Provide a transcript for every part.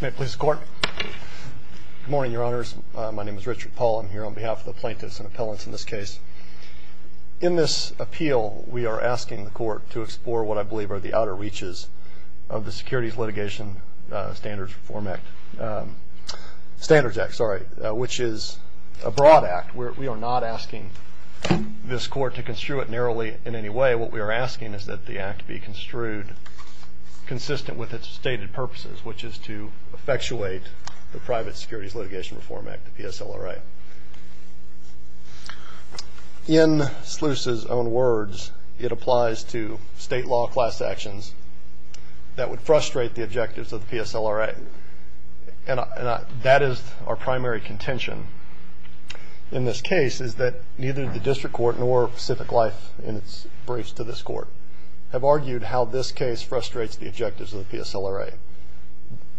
Good morning, your honors. My name is Richard Paul. I'm here on behalf of the plaintiffs and appellants in this case. In this appeal, we are asking the court to explore what I believe are the outer reaches of the Securities Litigation Standards Reform Act. Standards Act, sorry, which is a broad act. We are not asking this court to construe it narrowly in any way. What we are asking is that the act be construed consistent with its stated purposes, which is to effectuate the Private Securities Litigation Reform Act, the PSLRA. In Sluice's own words, it applies to state law class actions that would frustrate the objectives of the PSLRA. And that is our primary contention in this case, is that neither the district court nor Pacific Life in its briefs to this court have argued how this case frustrates the objectives of the PSLRA.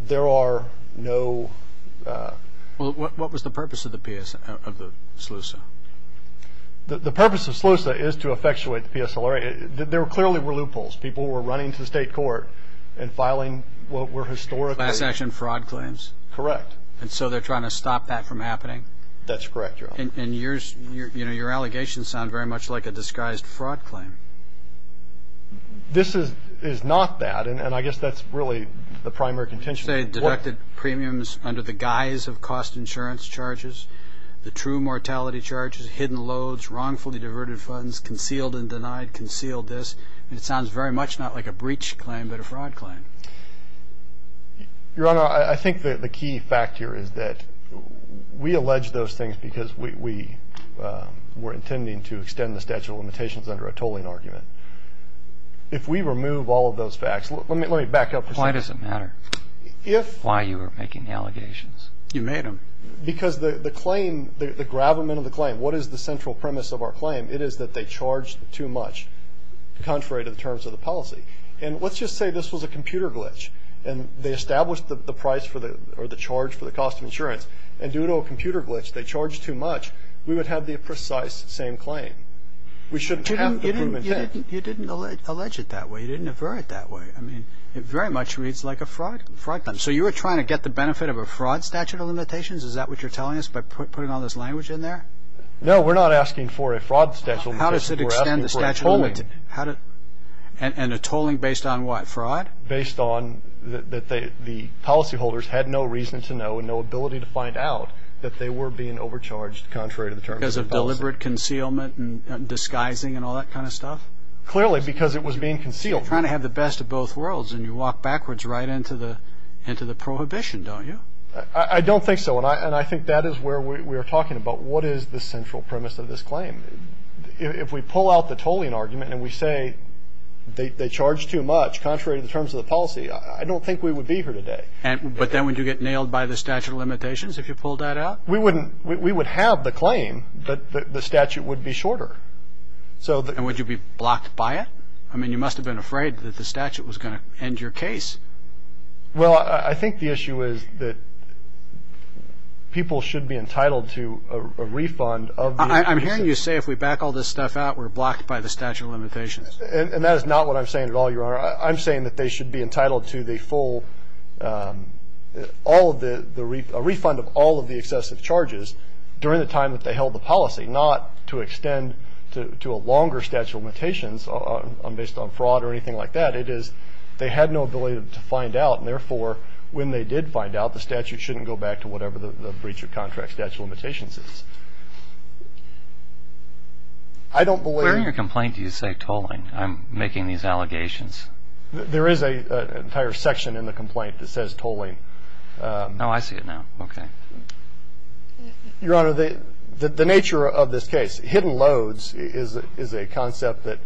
There are no... Well, what was the purpose of the Sluice? The purpose of Sluice is to effectuate the PSLRA. There clearly were loopholes. People were running to the state court and filing what were historically... Class action fraud claims. Correct. And so they're trying to stop that from happening? That's correct, Your Honor. And your allegations sound very much like a disguised fraud claim. This is not that, and I guess that's really the primary contention. You say deducted premiums under the guise of cost insurance charges, the true mortality charges, hidden loads, wrongfully diverted funds, concealed and denied, concealed this. And it sounds very much not like a breach claim, but a fraud claim. Your Honor, I think that the key fact here is that we allege those things because we were intending to extend the statute of limitations under a tolling argument. If we remove all of those facts, let me back up for a second. Why does it matter why you are making the allegations? You made them. Because the claim, the gravamen of the claim, what is the central premise of our claim? It is that they charged too much, contrary to the terms of the policy. And let's just say this was a computer glitch, and they established the price for the charge for the cost of insurance, and due to a computer glitch they charged too much, we would have the precise same claim. We shouldn't have the prudent intent. You didn't allege it that way. You didn't aver it that way. I mean, it very much reads like a fraud claim. So you were trying to get the benefit of a fraud statute of limitations? Is that what you're telling us by putting all this language in there? No, we're not asking for a fraud statute of limitations. We're asking for a tolling. And a tolling based on what, fraud? Based on that the policyholders had no reason to know and no ability to find out that they were being overcharged contrary to the terms of the policy. Because of deliberate concealment and disguising and all that kind of stuff? Clearly, because it was being concealed. You're trying to have the best of both worlds, and you walk backwards right into the prohibition, don't you? I don't think so, and I think that is where we are talking about. What is the central premise of this claim? If we pull out the tolling argument and we say they charged too much contrary to the terms of the policy, I don't think we would be here today. But then would you get nailed by the statute of limitations if you pulled that out? We wouldn't. We would have the claim, but the statute would be shorter. And would you be blocked by it? I mean, you must have been afraid that the statute was going to end your case. Well, I think the issue is that people should be entitled to a refund. I'm hearing you say if we back all this stuff out, we're blocked by the statute of limitations. And that is not what I'm saying at all, Your Honor. I'm saying that they should be entitled to a refund of all of the excessive charges during the time that they held the policy, not to extend to a longer statute of limitations based on fraud or anything like that. It is they had no ability to find out, and therefore, when they did find out, the statute shouldn't go back to whatever the breach of contract statute of limitations is. I don't believe. Where in your complaint do you say tolling? I'm making these allegations. There is an entire section in the complaint that says tolling. Oh, I see it now. Okay. Your Honor, the nature of this case, hidden loads is a concept that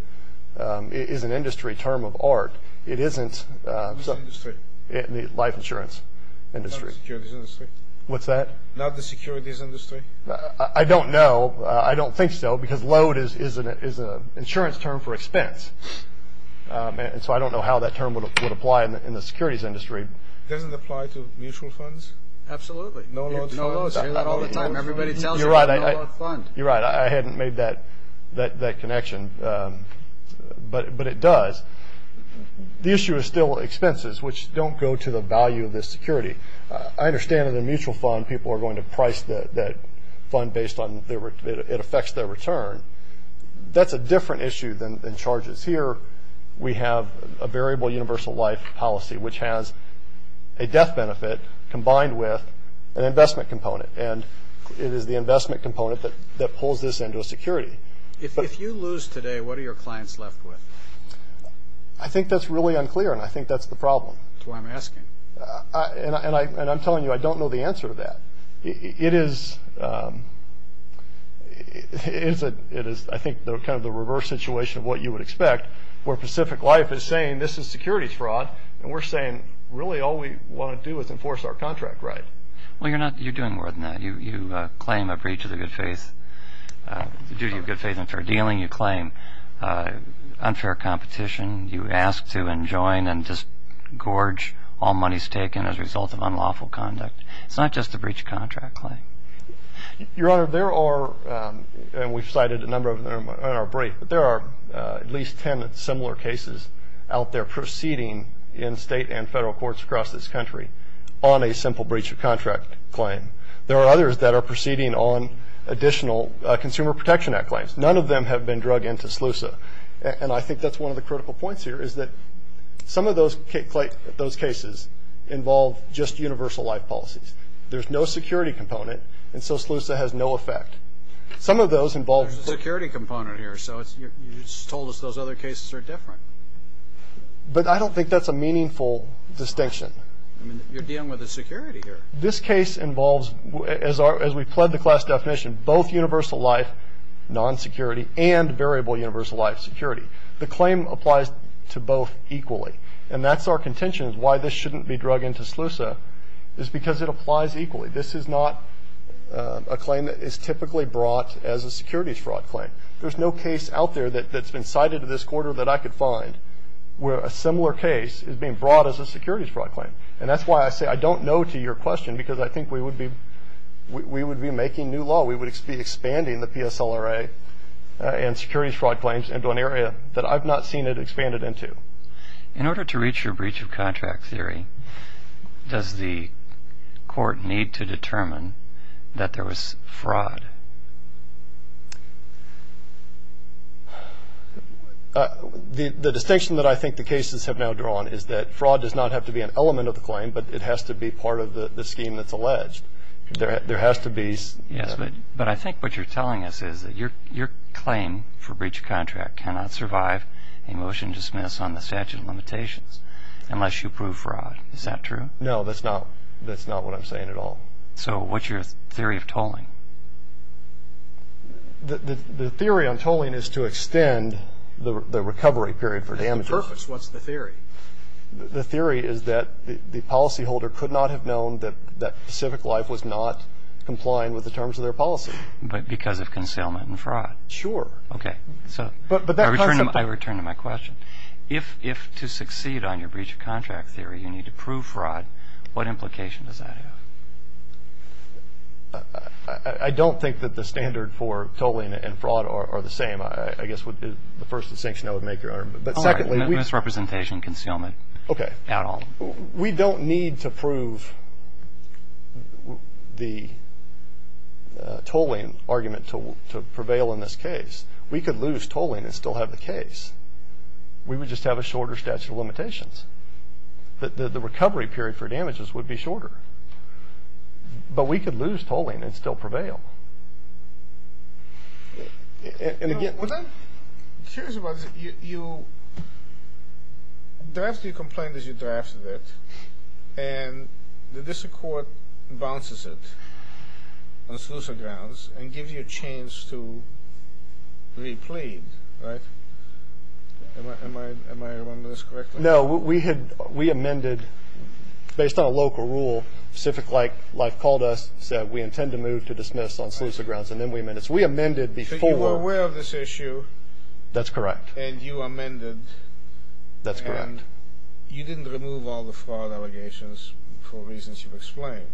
is an industry term of art. It isn't. Which industry? The life insurance industry. Not the securities industry? What's that? Not the securities industry? I don't know. I don't think so, because load is an insurance term for expense. And so I don't know how that term would apply in the securities industry. Does it apply to mutual funds? Absolutely. No-load funds. No-load funds. You hear that all the time. Everybody tells you no-load funds. You're right. I hadn't made that connection, but it does. The issue is still expenses, which don't go to the value of this security. I understand in a mutual fund people are going to price that fund based on it affects their return. That's a different issue than charges. Here we have a variable universal life policy, which has a death benefit combined with an investment component. And it is the investment component that pulls this into a security. If you lose today, what are your clients left with? I think that's really unclear, and I think that's the problem. That's why I'm asking. And I'm telling you I don't know the answer to that. It is, I think, kind of the reverse situation of what you would expect, where Pacific Life is saying this is securities fraud, and we're saying really all we want to do is enforce our contract right. Well, you're doing more than that. You claim a breach of the duty of good faith and fair dealing. You claim unfair competition. You ask to enjoin and just gorge all monies taken as a result of unlawful conduct. It's not just a breach of contract claim. Your Honor, there are, and we've cited a number of them in our brief, but there are at least 10 similar cases out there proceeding in state and federal courts across this country on a simple breach of contract claim. There are others that are proceeding on additional Consumer Protection Act claims. None of them have been drug into SLUSA, and I think that's one of the critical points here is that some of those cases involve just universal life policies. There's no security component, and so SLUSA has no effect. Some of those involve. There's a security component here, so you just told us those other cases are different. But I don't think that's a meaningful distinction. I mean, you're dealing with a security here. This case involves, as we pled the class definition, both universal life, non-security, and variable universal life, security. The claim applies to both equally, and that's our contention, why this shouldn't be drug into SLUSA is because it applies equally. This is not a claim that is typically brought as a securities fraud claim. There's no case out there that's been cited this quarter that I could find where a similar case is being brought as a securities fraud claim, and that's why I say I don't know to your question because I think we would be making new law. We would be expanding the PSLRA and securities fraud claims into an area that I've not seen it expanded into. In order to reach your breach of contract theory, does the court need to determine that there was fraud? The distinction that I think the cases have now drawn is that fraud does not have to be an element of the claim, but it has to be part of the scheme that's alleged. There has to be. Yes, but I think what you're telling us is that your claim for breach of contract cannot survive a motion to dismiss on the statute of limitations unless you prove fraud. Is that true? No, that's not what I'm saying at all. So what's your theory of tolling? The theory on tolling is to extend the recovery period for damages. What's the purpose? What's the theory? The theory is that the policyholder could not have known that Pacific Life was not complying with the terms of their policy. But because of concealment and fraud? Sure. Okay, so I return to my question. If to succeed on your breach of contract theory you need to prove fraud, what implication does that have? I don't think that the standard for tolling and fraud are the same, I guess would be the first distinction I would make. All right, no misrepresentation, concealment. Okay. At all. We don't need to prove the tolling argument to prevail in this case. We could lose tolling and still have the case. We would just have a shorter statute of limitations. The recovery period for damages would be shorter. But we could lose tolling and still prevail. I'm curious about this. You drafted your complaint as you drafted it, and the district court bounces it on sleuther grounds and gives you a chance to replead, right? Am I remembering this correctly? No, we amended, based on a local rule, Pacific Life called us, said we intend to move to dismiss on sleuther grounds, and then we amended. So we amended before. So you were aware of this issue. That's correct. And you amended. That's correct. And you didn't remove all the fraud allegations for reasons you've explained.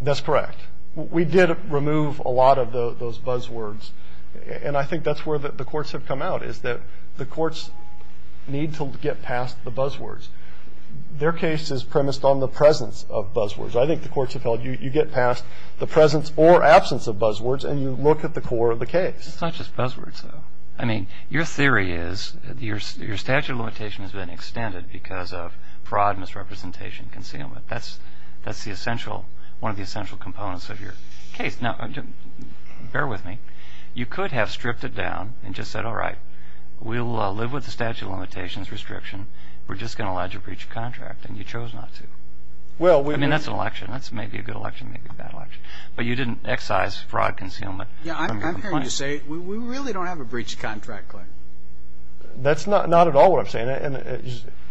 That's correct. We did remove a lot of those buzzwords, and I think that's where the courts have come out, is that the courts need to get past the buzzwords. Their case is premised on the presence of buzzwords. I think the courts have held you get past the presence or absence of buzzwords, and you look at the core of the case. It's not just buzzwords, though. I mean, your theory is your statute of limitations has been extended because of fraud, misrepresentation, concealment. That's one of the essential components of your case. Now, bear with me. You could have stripped it down and just said, all right, we'll live with the statute of limitations restriction. We're just going to lodge a breach of contract, and you chose not to. I mean, that's an election. That's maybe a good election, maybe a bad election. But you didn't excise fraud, concealment. Yeah, I'm here to say we really don't have a breach of contract claim. That's not at all what I'm saying. And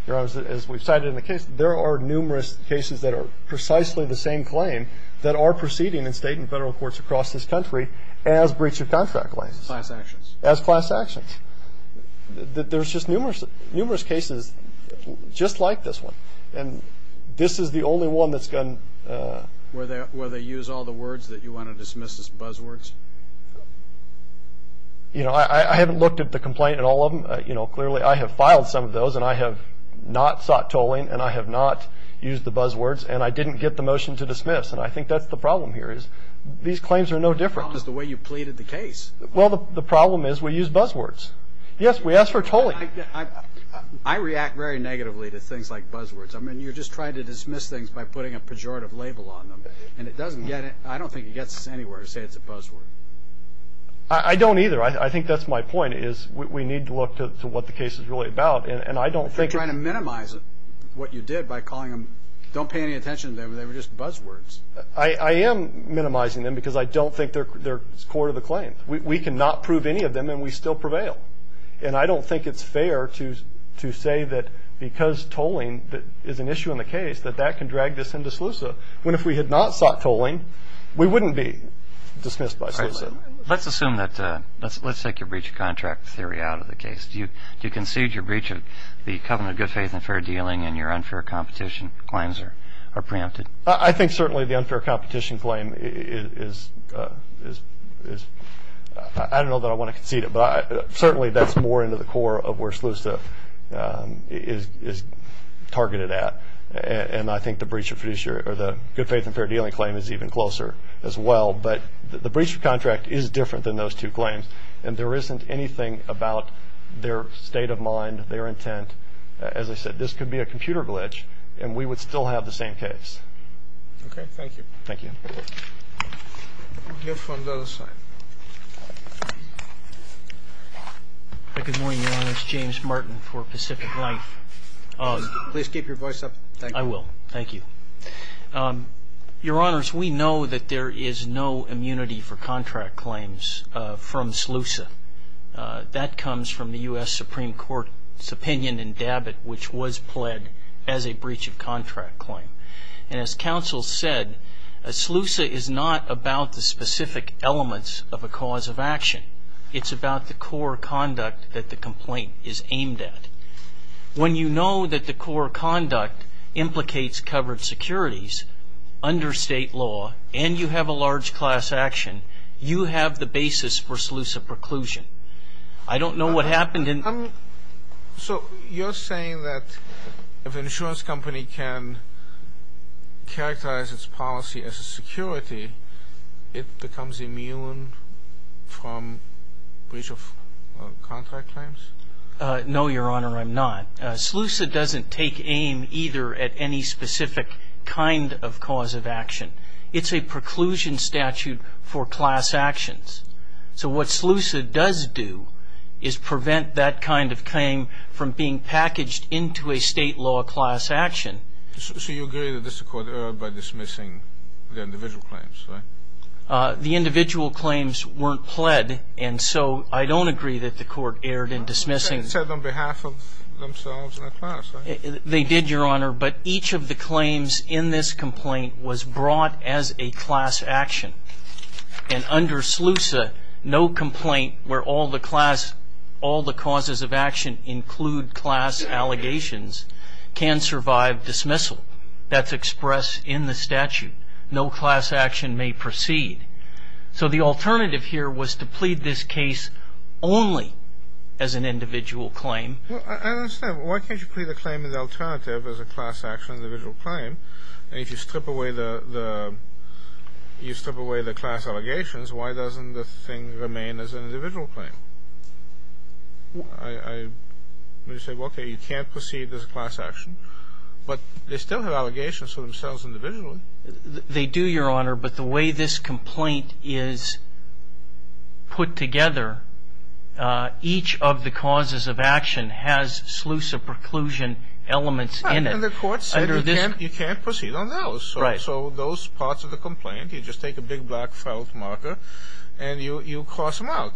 as we've cited in the case, there are numerous cases that are precisely the same claim that are proceeding in state and federal courts across this country as breach of contract claims. Class actions. As class actions. There's just numerous cases just like this one. And this is the only one that's going to. Where they use all the words that you want to dismiss as buzzwords. You know, I haven't looked at the complaint in all of them. You know, clearly I have filed some of those, and I have not sought tolling, and I have not used the buzzwords, and I didn't get the motion to dismiss. And I think that's the problem here is these claims are no different. The problem is the way you pleaded the case. Well, the problem is we use buzzwords. Yes, we ask for tolling. I react very negatively to things like buzzwords. I mean, you're just trying to dismiss things by putting a pejorative label on them. And it doesn't get it. I don't think it gets us anywhere to say it's a buzzword. I don't either. I think that's my point is we need to look to what the case is really about. And I don't think. You're trying to minimize what you did by calling them. Don't pay any attention to them. They were just buzzwords. I am minimizing them because I don't think they're core to the claim. We cannot prove any of them, and we still prevail. And I don't think it's fair to say that because tolling is an issue in the case, that that can drag this into SLUSA, when if we had not sought tolling, we wouldn't be dismissed by SLUSA. All right. Let's assume that. Let's take your breach of contract theory out of the case. Do you concede your breach of the covenant of good faith and fair dealing and your unfair competition claims are preempted? I think certainly the unfair competition claim is... I don't know that I want to concede it, but certainly that's more into the core of where SLUSA is targeted at. And I think the good faith and fair dealing claim is even closer as well. But the breach of contract is different than those two claims, and there isn't anything about their state of mind, their intent. As I said, this could be a computer glitch, and we would still have the same case. Okay. Thank you. Thank you. We'll go from the other side. Good morning, Your Honors. James Martin for Pacific Life. Please keep your voice up. I will. Thank you. Your Honors, we know that there is no immunity for contract claims from SLUSA. That comes from the U.S. Supreme Court's opinion in Dabbitt, which was pled as a breach of contract claim. And as counsel said, SLUSA is not about the specific elements of a cause of action. It's about the core conduct that the complaint is aimed at. When you know that the core conduct implicates covered securities, under state law, and you have a large class action, you have the basis for SLUSA preclusion. I don't know what happened in the So you're saying that if an insurance company can characterize its policy as a security, it becomes immune from breach of contract claims? No, Your Honor, I'm not. SLUSA doesn't take aim either at any specific kind of cause of action. It's a preclusion statute for class actions. So what SLUSA does do is prevent that kind of claim from being packaged into a state law class action. So you agree that this Court erred by dismissing the individual claims, right? The individual claims weren't pled, and so I don't agree that the Court erred in dismissing It said on behalf of themselves and their class, right? They did, Your Honor, but each of the claims in this complaint was brought as a class action. And under SLUSA, no complaint where all the causes of action include class allegations can survive dismissal. That's expressed in the statute. No class action may proceed. So the alternative here was to plead this case only as an individual claim. Well, I don't understand. Why can't you plead a claim in the alternative as a class action individual claim? And if you strip away the class allegations, why doesn't the thing remain as an individual claim? I mean, you say, well, okay, you can't proceed as a class action, but they still have allegations for themselves individually. They do, Your Honor, but the way this complaint is put together, each of the causes of action has SLUSA preclusion elements in it. And the Court said you can't proceed on those. Right. So those parts of the complaint, you just take a big black felt marker and you cross them out.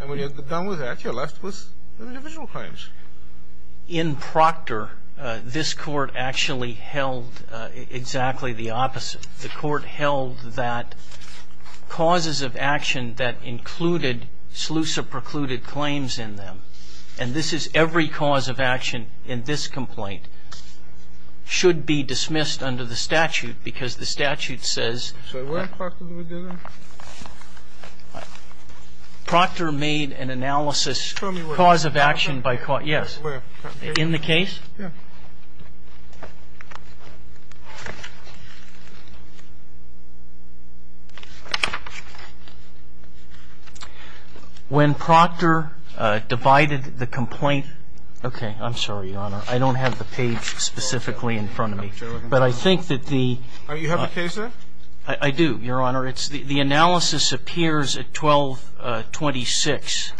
And when you're done with that, you're left with individual claims. In Proctor, this Court actually held exactly the opposite. The Court held that causes of action that included SLUSA precluded claims in them, and this is every cause of action in this complaint, should be dismissed under the statute because the statute says that Proctor made an analysis Just say which case. This one. This one, you know? PROCTOR. Across Sulu. This cause of action by Caustic. In the case? Yeah. When Proctor divided the complaint okay, I'm sorry, Your Honor, I don't have the page specifically in front of me, but I think that the. You have the case there? I do, Your Honor. The analysis appears at 1226.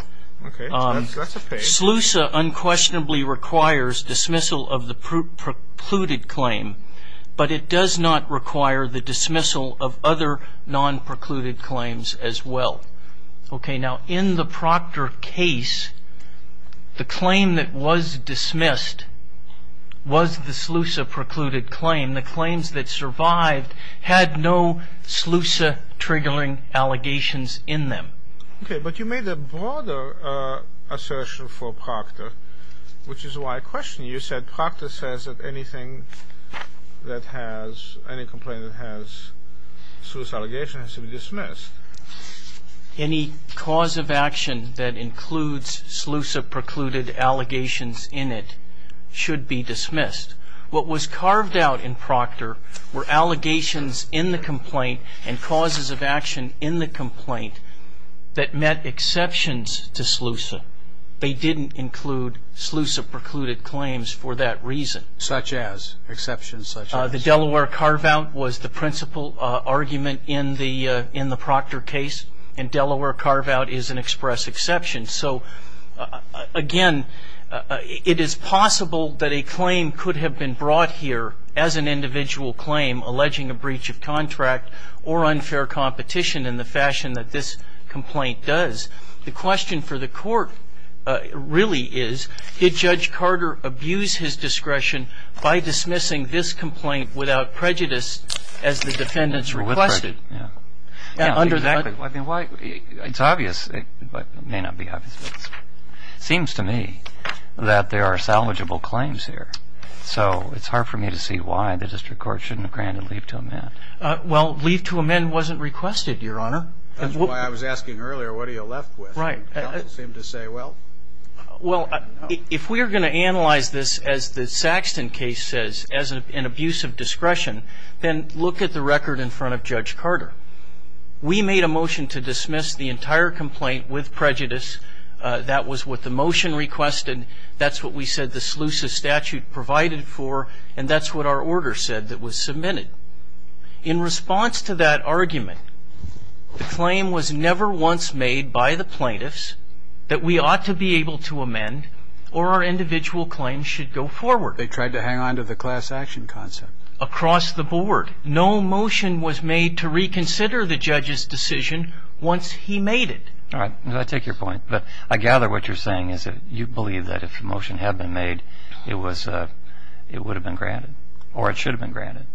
Okay. That's a page. SLUSA unquestionably requires dismissal of the precluded claim, but it does not require the dismissal of other non-precluded claims as well. Okay. Now, in the Proctor case, the claim that was dismissed was the SLUSA precluded claim. The claims that survived had no SLUSA triggering allegations in them. Okay. But you made a broader assertion for Proctor, which is why I question you. You said Proctor says that anything that has, any complaint that has SLUSA allegations has to be dismissed. Any cause of action that includes SLUSA precluded allegations in it should be dismissed. What was carved out in Proctor were allegations in the complaint and causes of action in the complaint that met exceptions to SLUSA. They didn't include SLUSA precluded claims for that reason. Such as? Exceptions such as? The Delaware carve-out was the principal argument in the Proctor case, and Delaware carve-out is an express exception. So, again, it is possible that a claim could have been brought here as an individual claim, alleging a breach of contract or unfair competition in the fashion that this complaint does. The question for the court really is, did Judge Carter abuse his discretion by dismissing this complaint without prejudice as the defendants requested? Yeah. Exactly. I mean, why? It's obvious. It may not be obvious, but it seems to me that there are salvageable claims here. So it's hard for me to see why the district court shouldn't have granted leave to amend. Well, leave to amend wasn't requested, Your Honor. That's why I was asking earlier, what are you left with? Right. You don't seem to say, well. Well, if we are going to analyze this, as the Saxton case says, as an abuse of discretion, then look at the record in front of Judge Carter. We made a motion to dismiss the entire complaint with prejudice. That was what the motion requested. That's what we said the SLUSA statute provided for. And that's what our order said that was submitted. In response to that argument, the claim was never once made by the plaintiffs that we ought to be able to amend or our individual claims should go forward. They tried to hang on to the class action concept. Across the board. No motion was made to reconsider the judge's decision once he made it. All right. I take your point. But I gather what you're saying is that you believe that if the motion had been made, it would have been granted or it should have been granted.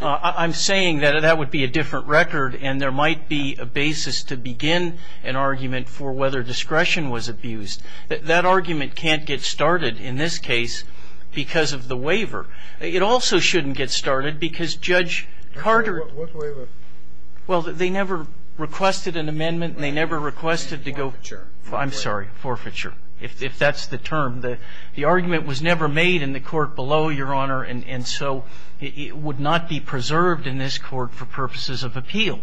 I'm saying that that would be a different record and there might be a basis to begin an argument for whether discretion was abused. That argument can't get started in this case because of the waiver. It also shouldn't get started because Judge Carter. What waiver? Well, they never requested an amendment. They never requested to go. Forfeiture. I'm sorry. Forfeiture, if that's the term. The argument was never made in the court below, Your Honor, and so it would not be preserved in this court for purposes of appeal.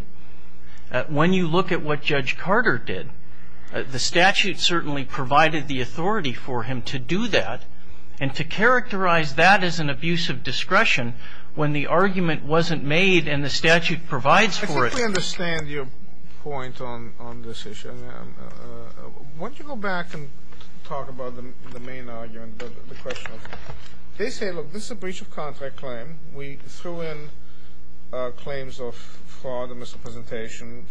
When you look at what Judge Carter did, the statute certainly provided the authority for him to do that and to characterize that as an abuse of discretion when the argument wasn't made and the statute provides for it. I completely understand your point on this issue. Why don't you go back and talk about the main argument, the question. They say, look, this is a breach of contract claim. We threw in claims of fraud and misrepresentation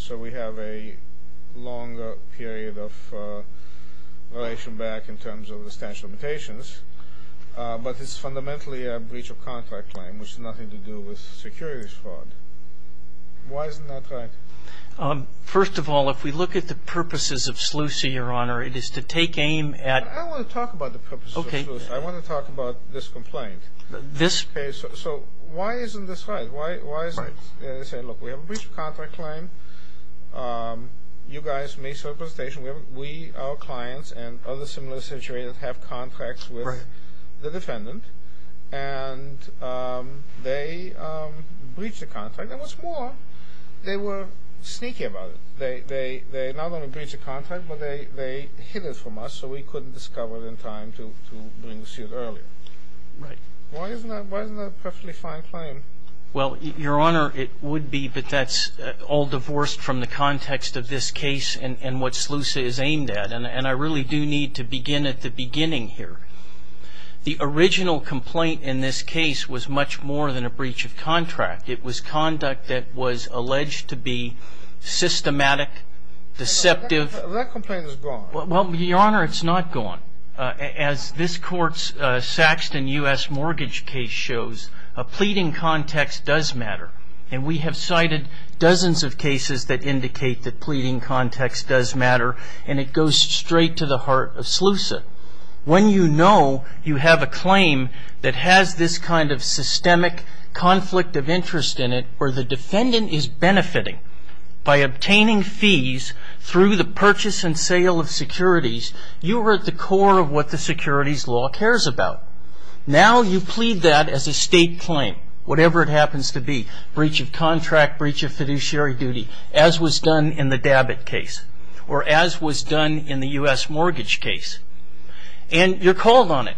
so we have a longer period of relation back in terms of the statute of limitations, but it's fundamentally a breach of contract claim, which has nothing to do with securities fraud. Why is it not right? First of all, if we look at the purposes of SLUCI, Your Honor, it is to take aim at. I don't want to talk about the purposes of SLUCI. I want to talk about this complaint. So why isn't this right? They say, look, we have a breach of contract claim. You guys misrepresentation. We, our clients and other similar situations have contracts with the defendant and they breach the contract. And what's more, they were sneaky about it. They not only breached the contract, but they hid it from us so we couldn't discover in time to bring the suit earlier. Right. Why isn't that a perfectly fine claim? Well, Your Honor, it would be, but that's all divorced from the context of this case and what SLUCI is aimed at, and I really do need to begin at the beginning here. The original complaint in this case was much more than a breach of contract. It was conduct that was alleged to be systematic, deceptive. That complaint is gone. Well, Your Honor, it's not gone. As this court's Saxton U.S. mortgage case shows, a pleading context does matter, and we have cited dozens of cases that indicate that pleading context does matter and it goes straight to the heart of SLUCI. When you know you have a claim that has this kind of systemic conflict of interest in it where the defendant is benefiting by obtaining fees through the purchase and sale of securities, you are at the core of what the securities law cares about. Now you plead that as a state claim, whatever it happens to be. Breach of contract, breach of fiduciary duty, as was done in the DABIT case or as was done in the U.S. mortgage case, and you're called on it.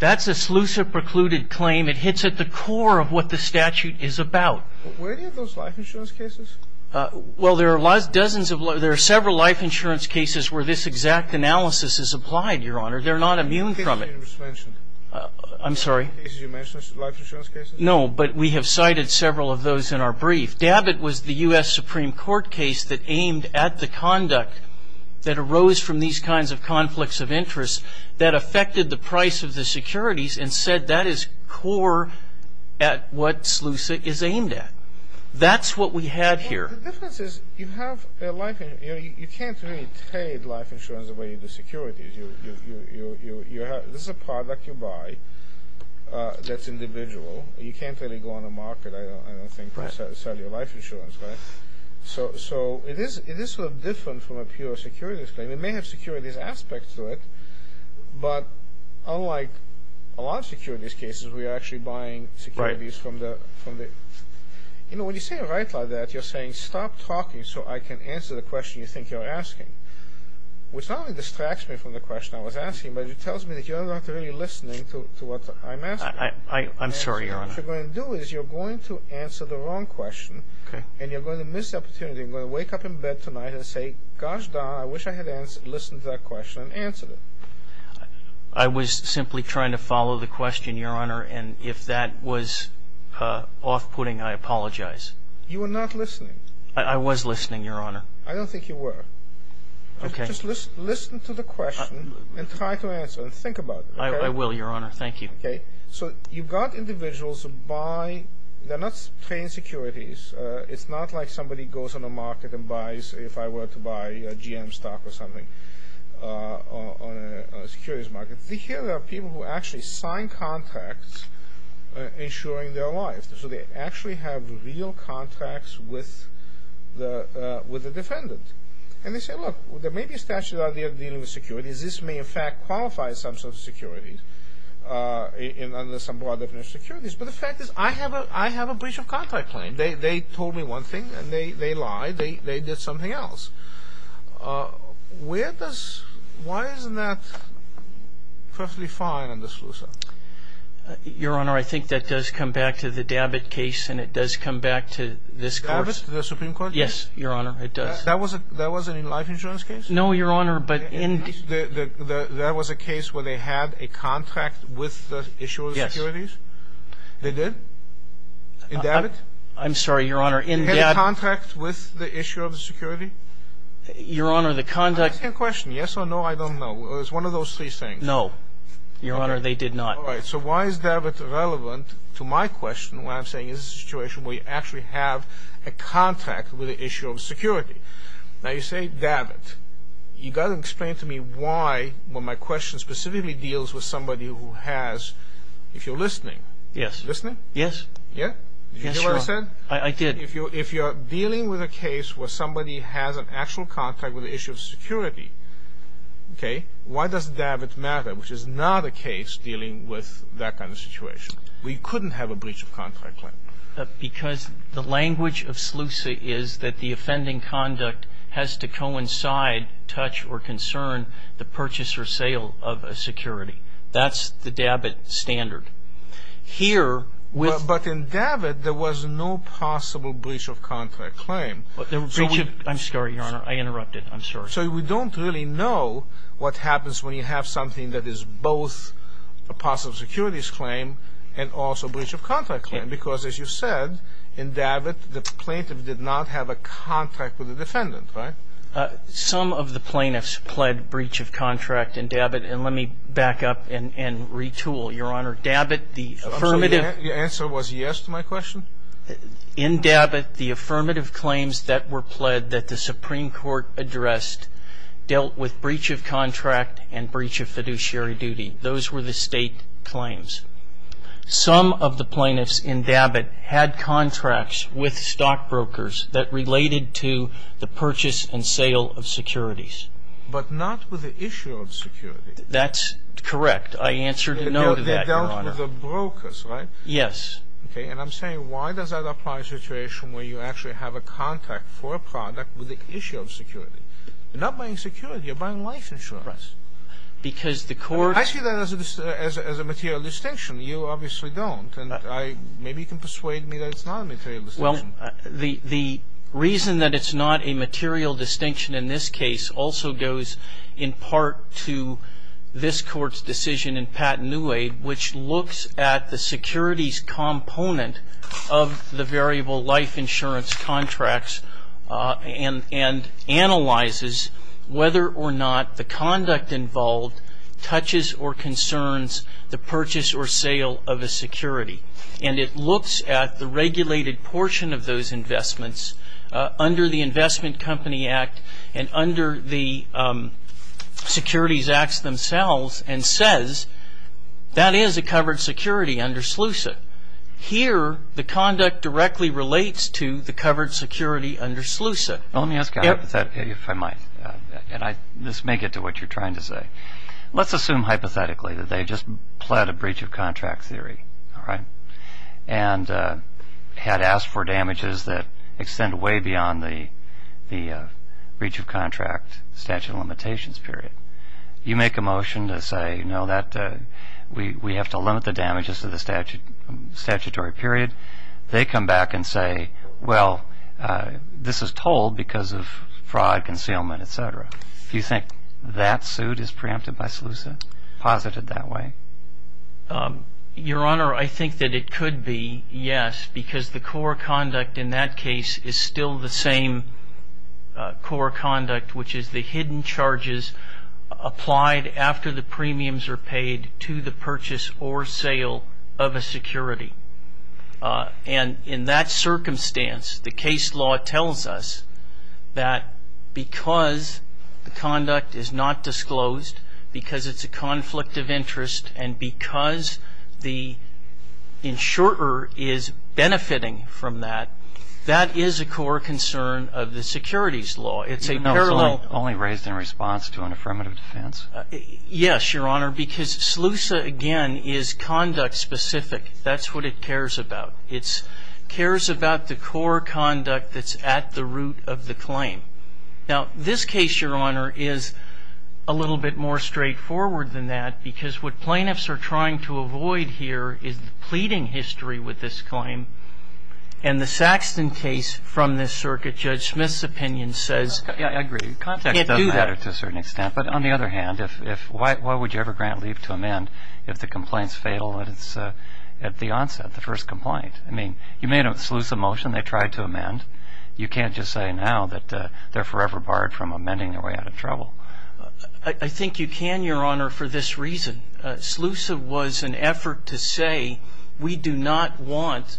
That's a SLUCI-precluded claim. It hits at the core of what the statute is about. Where are those life insurance cases? Well, there are dozens of them. There are several life insurance cases where this exact analysis is applied, Your Honor. They're not immune from it. I think you just mentioned it. I'm sorry? The cases you mentioned, life insurance cases? No, but we have cited several of those in our brief. DABIT was the U.S. Supreme Court case that aimed at the conduct that arose from these kinds of conflicts of interest that affected the price of the securities and said that is core at what SLUCI is aimed at. That's what we had here. The difference is you have life insurance. You can't really trade life insurance away into securities. This is a product you buy that's individual. You can't really go on the market. I don't think you sell your life insurance, right? So it is sort of different from a pure securities claim. It may have securities aspects to it, but unlike a lot of securities cases, we are actually buying securities from the... You know, when you say it right like that, you're saying stop talking so I can answer the question you think you're asking, which not only distracts me from the question I was asking, but it tells me that you're not really listening to what I'm asking. I'm sorry, Your Honor. What you're going to do is you're going to answer the wrong question, and you're going to miss the opportunity. You're going to wake up in bed tonight and say, gosh darn, I wish I had listened to that question and answered it. I was simply trying to follow the question, Your Honor, and if that was off-putting, I apologize. You were not listening. I was listening, Your Honor. I don't think you were. Okay. Just listen to the question and try to answer it. Think about it. I will, Your Honor. Thank you. Okay. So you've got individuals who buy... They're not trained securities. It's not like somebody goes on the market and buys, if I were to buy GM stock or something on a securities market. Here there are people who actually sign contracts ensuring their life. So they actually have real contracts with the defendant. And they say, look, there may be a statute out there dealing with securities. This may, in fact, qualify as some sort of securities under some broad definition of securities. But the fact is I have a breach of contract claim. They told me one thing, and they lied. They did something else. Where does... Why isn't that perfectly fine under SLUSA? Your Honor, I think that does come back to the Dabbitt case, and it does come back to this court. The Supreme Court? Yes, Your Honor, it does. That was a life insurance case? No, Your Honor, but in... That was a case where they had a contract with the issuer of securities? Yes. They did? In Dabbitt? I'm sorry, Your Honor, in Dabbitt. They had a contract with the issuer of the security? Your Honor, the contract... I'm asking a question. Yes or no, I don't know. It was one of those three things. No. Your Honor, they did not. All right, so why is Dabbitt relevant to my question when I'm saying is this a situation where you actually have a contract with the issuer of security? Now, you say Dabbitt. You've got to explain to me why when my question specifically deals with somebody who has... if you're listening. Yes. Listening? Yes. Yeah? Yes, Your Honor. Did you hear what I said? I did. If you're dealing with a case where somebody has an actual contract with the issuer of security, okay, why does Dabbitt matter, which is not a case dealing with that kind of situation? We couldn't have a breach of contract claim. Because the language of SLUSA is that the offending conduct has to coincide, touch, or concern the purchase or sale of a security. That's the Dabbitt standard. Here, with... But in Dabbitt, there was no possible breach of contract claim. Breach of... I'm sorry, Your Honor. I interrupted. I'm sorry. So we don't really know what happens when you have something that is both a possible securities claim and also a breach of contract claim. Because, as you said, in Dabbitt, the plaintiff did not have a contract with the defendant, right? Some of the plaintiffs pled breach of contract in Dabbitt. And let me back up and retool. Your Honor, Dabbitt, the affirmative... The answer was yes to my question? In Dabbitt, the affirmative claims that were pled that the Supreme Court addressed dealt with breach of contract and breach of fiduciary duty. Those were the State claims. Some of the plaintiffs in Dabbitt had contracts with stockbrokers that related to the purchase and sale of securities. But not with the issue of securities. That's correct. I answered no to that, Your Honor. They dealt with the brokers, right? Yes. Okay. And I'm saying why does that apply to a situation where you actually have a contract for a product with the issue of security? You're not buying security. You're buying life insurance. Right. Because the court... I see that as a material distinction. You obviously don't. And maybe you can persuade me that it's not a material distinction. Well, the reason that it's not a material distinction in this case also goes in part to this Court's decision in Patten-Newade, which looks at the securities component of the variable life insurance contracts and analyzes whether or not the conduct involved touches or concerns the purchase or sale of a security. And it looks at the regulated portion of those investments under the Investment Company Act and under the Securities Acts themselves and says, that is a covered security under SLUSA. Here, the conduct directly relates to the covered security under SLUSA. Let me ask you a hypothetical, if I might. And this may get to what you're trying to say. Let's assume hypothetically that they just pled a breach of contract theory, all right, and had asked for damages that extend way beyond the breach of contract statute of limitations period. You make a motion to say, no, we have to limit the damages to the statutory period. They come back and say, well, this is told because of fraud, concealment, et cetera. Do you think that suit is preempted by SLUSA, posited that way? Your Honor, I think that it could be, yes, because the core conduct in that case is still the same core conduct, which is the hidden charges applied after the premiums are paid to the purchase or sale of a security. And in that circumstance, the case law tells us that because the conduct is not disclosed, because it's a conflict of interest, and because the insurer is benefiting from that, that is a core concern of the securities law. It's a parallel. Only raised in response to an affirmative defense? Yes, Your Honor, because SLUSA, again, is conduct specific. That's what it cares about. It cares about the core conduct that's at the root of the claim. Now, this case, Your Honor, is a little bit more straightforward than that because what plaintiffs are trying to avoid here is the pleading history with this claim. And the Saxton case from this circuit, Judge Smith's opinion, says you can't do that. I agree. The context doesn't matter to a certain extent. But on the other hand, why would you ever grant leave to amend if the complaint's fatal at the onset, the first complaint? I mean, you may know with SLUSA motion they tried to amend. You can't just say now that they're forever barred from amending and we're out of trouble. I think you can, Your Honor, for this reason. SLUSA was an effort to say we do not want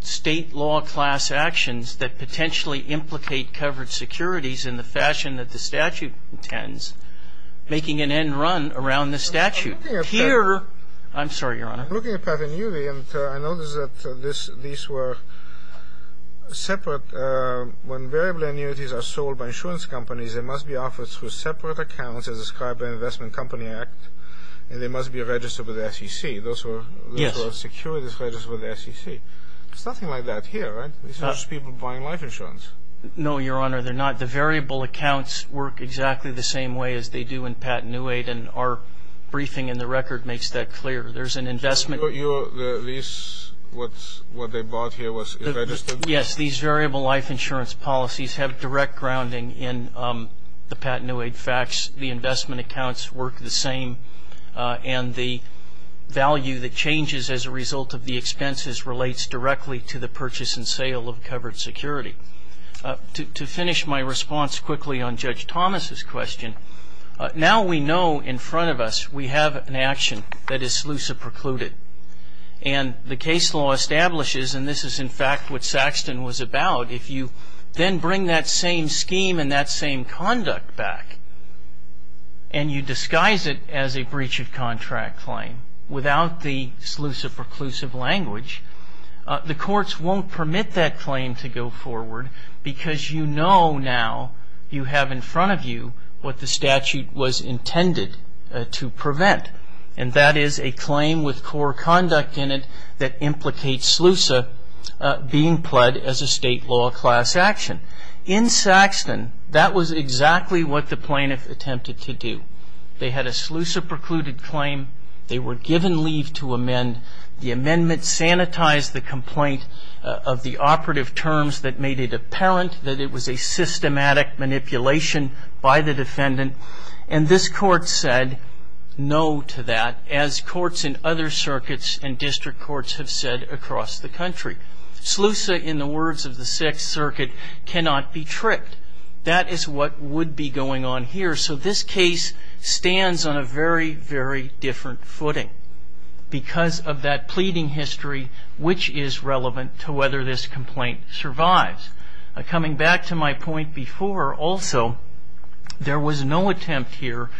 State law class actions that potentially implicate covered securities in the fashion that the statute intends, making an end run around the statute. I'm sorry, Your Honor. I'm looking at Pat and Uwe, and I noticed that these were separate. When variable annuities are sold by insurance companies, they must be offered through separate accounts as described by the Investment Company Act, and they must be registered with the SEC. Those were securities registered with the SEC. There's nothing like that here, right? These are just people buying life insurance. No, Your Honor, they're not. The variable accounts work exactly the same way as they do in Pat and Uwe, and our briefing in the record makes that clear. There's an investment. What they bought here was registered? Yes. These variable life insurance policies have direct grounding in the Pat and Uwe facts. The investment accounts work the same, and the value that changes as a result of the expenses relates directly to the purchase and sale of covered security. To finish my response quickly on Judge Thomas's question, now we know in front of us we have an action that is sleutha precluded, and the case law establishes, and this is in fact what Saxton was about, if you then bring that same scheme and that same conduct back and you disguise it as a breach of contract claim without the sleutha preclusive language, the courts won't permit that claim to go forward because you know now you have in front of you what the statute was intended to prevent, and that is a claim with core conduct in it that implicates sleutha being pled as a state law class action. In Saxton, that was exactly what the plaintiff attempted to do. They had a sleutha precluded claim. They were given leave to amend. The amendment sanitized the complaint of the operative terms that made it apparent that it was a systematic manipulation by the defendant, and this court said no to that as courts in other circuits and district courts have said across the country. Sleutha, in the words of the Sixth Circuit, cannot be tricked. That is what would be going on here, so this case stands on a very, very different footing because of that pleading history which is relevant to whether this complaint survives. Coming back to my point before, also, there was no attempt here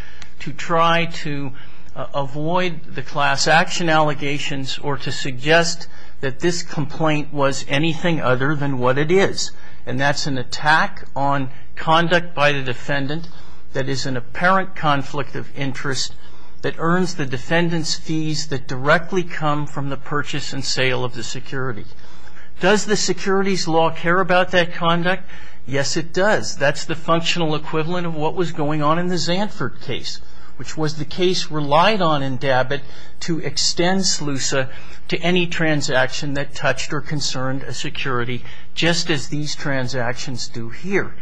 to try to avoid the class action allegations or to suggest that this complaint was anything other than what it is, and that's an attack on conduct by the defendant that is an apparent conflict of interest that earns the defendant's fees that directly come from the purchase and sale of the security. Does the securities law care about that conduct? Yes, it does. That's the functional equivalent of what was going on in the Zandford case, which was the case relied on in Dabbitt to extend sleutha to any transaction that touched or concerned a security just as these transactions do here.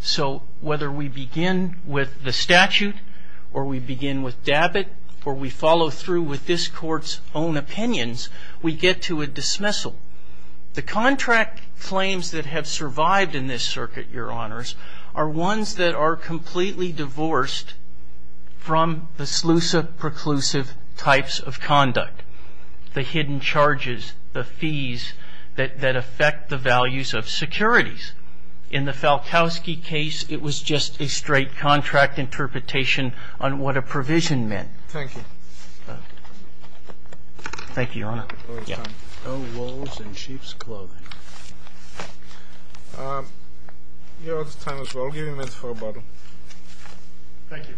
So whether we begin with the statute or we begin with Dabbitt or we follow through with this court's own opinions, we get to a dismissal. The contract claims that have survived in this circuit, Your Honors, are ones that are completely divorced from the sleutha preclusive types of conduct, the hidden charges, the fees that affect the values of securities. In the Falkowski case, it was just a straight contract interpretation on what a provision meant. Thank you. Thank you, Your Honor. Oh, it's time. No wolves in sheep's clothing. Your Honor, it's time as well. I'll give you a minute for rebuttal. Thank you.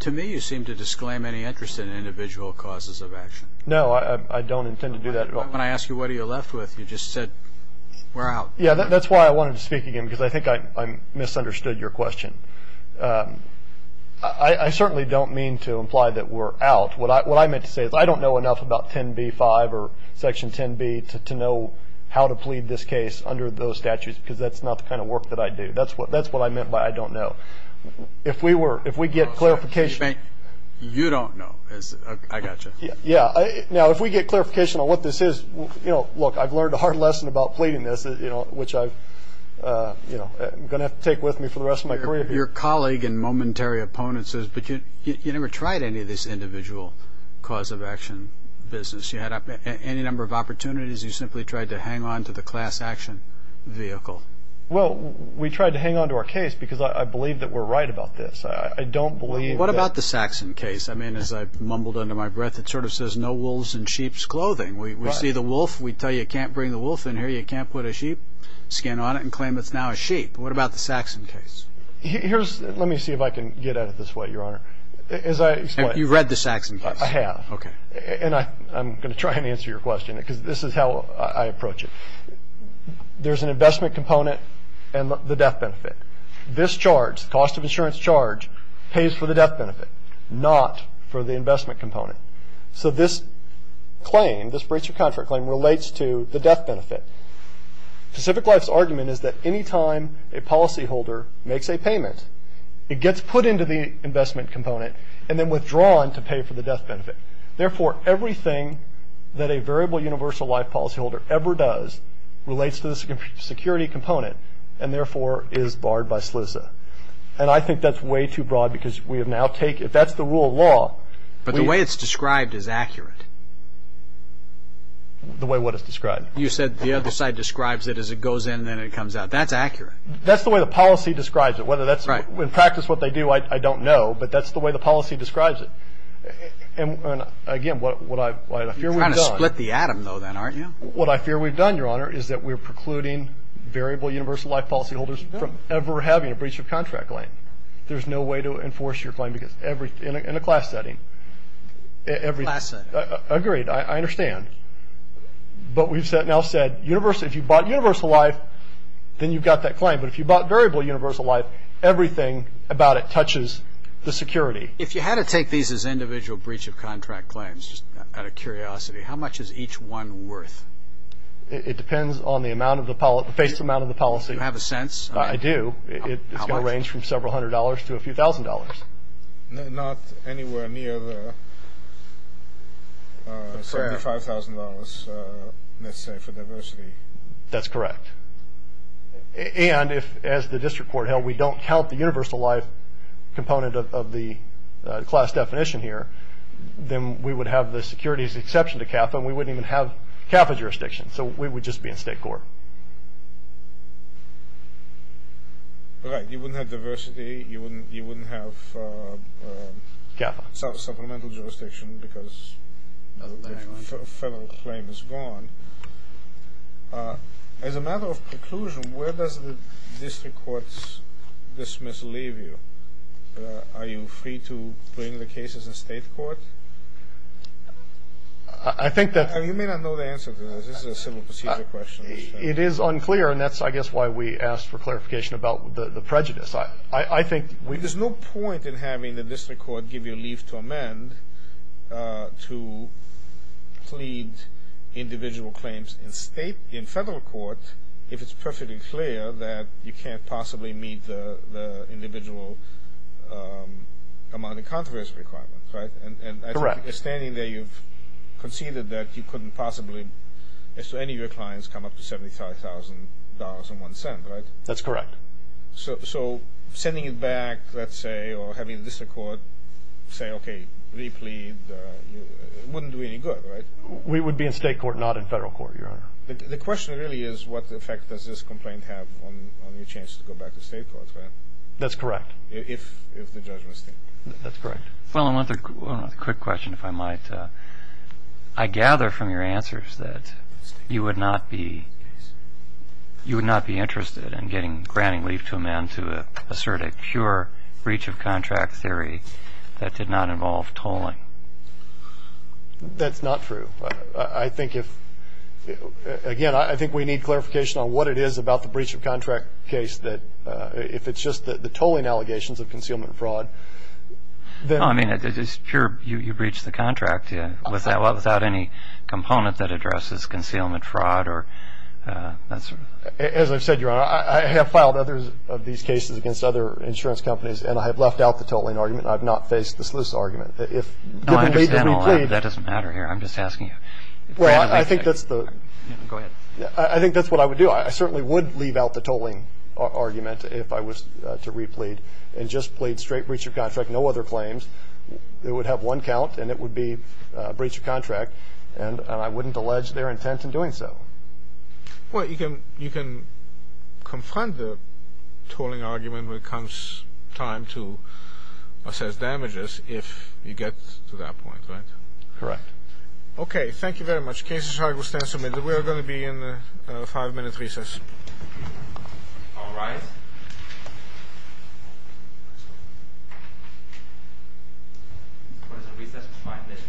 To me, you seem to disclaim any interest in individual causes of action. No, I don't intend to do that. When I asked you what are you left with, you just said we're out. Yeah, that's why I wanted to speak again because I think I misunderstood your question. I certainly don't mean to imply that we're out. What I meant to say is I don't know enough about 10b-5 or Section 10b to know how to plead this case under those statutes because that's not the kind of work that I do. That's what I meant by I don't know. If we get clarification. You don't know. I got you. Yeah. Now, if we get clarification on what this is, look, I've learned a hard lesson about pleading this, which I'm going to have to take with me for the rest of my career. Your colleague and momentary opponent says, but you never tried any of this individual cause of action business. You had any number of opportunities. You simply tried to hang on to the class action vehicle. Well, we tried to hang on to our case because I believe that we're right about this. I don't believe that. What about the Saxon case? I mean, as I mumbled under my breath, it sort of says no wolves in sheep's clothing. We see the wolf. We tell you you can't bring the wolf in here. You can't put a sheep skin on it and claim it's now a sheep. What about the Saxon case? Let me see if I can get at it this way, Your Honor. You've read the Saxon case. I have. Okay. And I'm going to try and answer your question because this is how I approach it. There's an investment component and the death benefit. This charge, the cost of insurance charge, pays for the death benefit, not for the investment component. So this claim, this breach of contract claim, relates to the death benefit. Pacific Life's argument is that any time a policyholder makes a payment, it gets put into the investment component and then withdrawn to pay for the death benefit. Therefore, everything that a variable universal life policyholder ever does relates to the security component and, therefore, is barred by SLISA. And I think that's way too broad because we have now taken it. That's the rule of law. But the way it's described is accurate. The way what it's described? You said the other side describes it as it goes in and then it comes out. That's accurate. That's the way the policy describes it, whether that's in practice what they do, I don't know. But that's the way the policy describes it. And, again, what I fear we've done. You're trying to split the atom, though, then, aren't you? What I fear we've done, Your Honor, is that we're precluding variable universal life policyholders from ever having a breach of contract claim. There's no way to enforce your claim because in a class setting. Class setting. Agreed. I understand. But we've now said if you bought universal life, then you've got that claim. But if you bought variable universal life, everything about it touches the security. If you had to take these as individual breach of contract claims, just out of curiosity, how much is each one worth? It depends on the amount of the policy. Do you have a sense? I do. How much? It's going to range from several hundred dollars to a few thousand dollars. Not anywhere near $75,000, let's say, for diversity. That's correct. And if, as the district court held, we don't count the universal life component of the class definition here, then we would have the securities exception to CAFA, and we wouldn't even have CAFA jurisdiction. So we would just be in state court. Right. You wouldn't have diversity. You wouldn't have supplemental jurisdiction because federal claim is gone. As a matter of preclusion, where does the district court dismiss leave you? Are you free to bring the cases in state court? You may not know the answer to this. This is a civil procedure question. It is unclear, and that's, I guess, why we asked for clarification about the prejudice. There's no point in having the district court give you leave to amend to plead individual claims in federal court if it's perfectly clear that you can't possibly meet the individual amount of controversy requirements, right? Correct. And standing there, you've conceded that you couldn't possibly, as to any of your clients, come up to $75,000.01, right? That's correct. So sending it back, let's say, or having the district court say, okay, re-plead wouldn't do any good, right? We would be in state court, not in federal court, Your Honor. The question really is what effect does this complaint have on your chance to go back to state court, right? That's correct. If the judgment is there. That's correct. Well, I want a quick question, if I might. I gather from your answers that you would not be interested in granting leave to amend to assert a pure breach of contract theory that did not involve tolling. That's not true. I think if, again, I think we need clarification on what it is about the breach of contract case, that if it's just the tolling allegations of concealment fraud. I mean, it's pure you breached the contract without any component that addresses concealment fraud. As I've said, Your Honor, I have filed other of these cases against other insurance companies, and I have left out the tolling argument. I have not faced the sluice argument. No, I understand all that, but that doesn't matter here. I'm just asking you. Well, I think that's the. Go ahead. I think that's what I would do. I certainly would leave out the tolling argument if I was to replead and just plead straight breach of contract, no other claims. It would have one count, and it would be breach of contract, and I wouldn't allege their intent in doing so. Well, you can confront the tolling argument when it comes time to assess damages if you get to that point, right? Correct. Okay. Thank you very much. Cases are to be submitted. We are going to be in a five-minute recess. All rise. Recess for five minutes.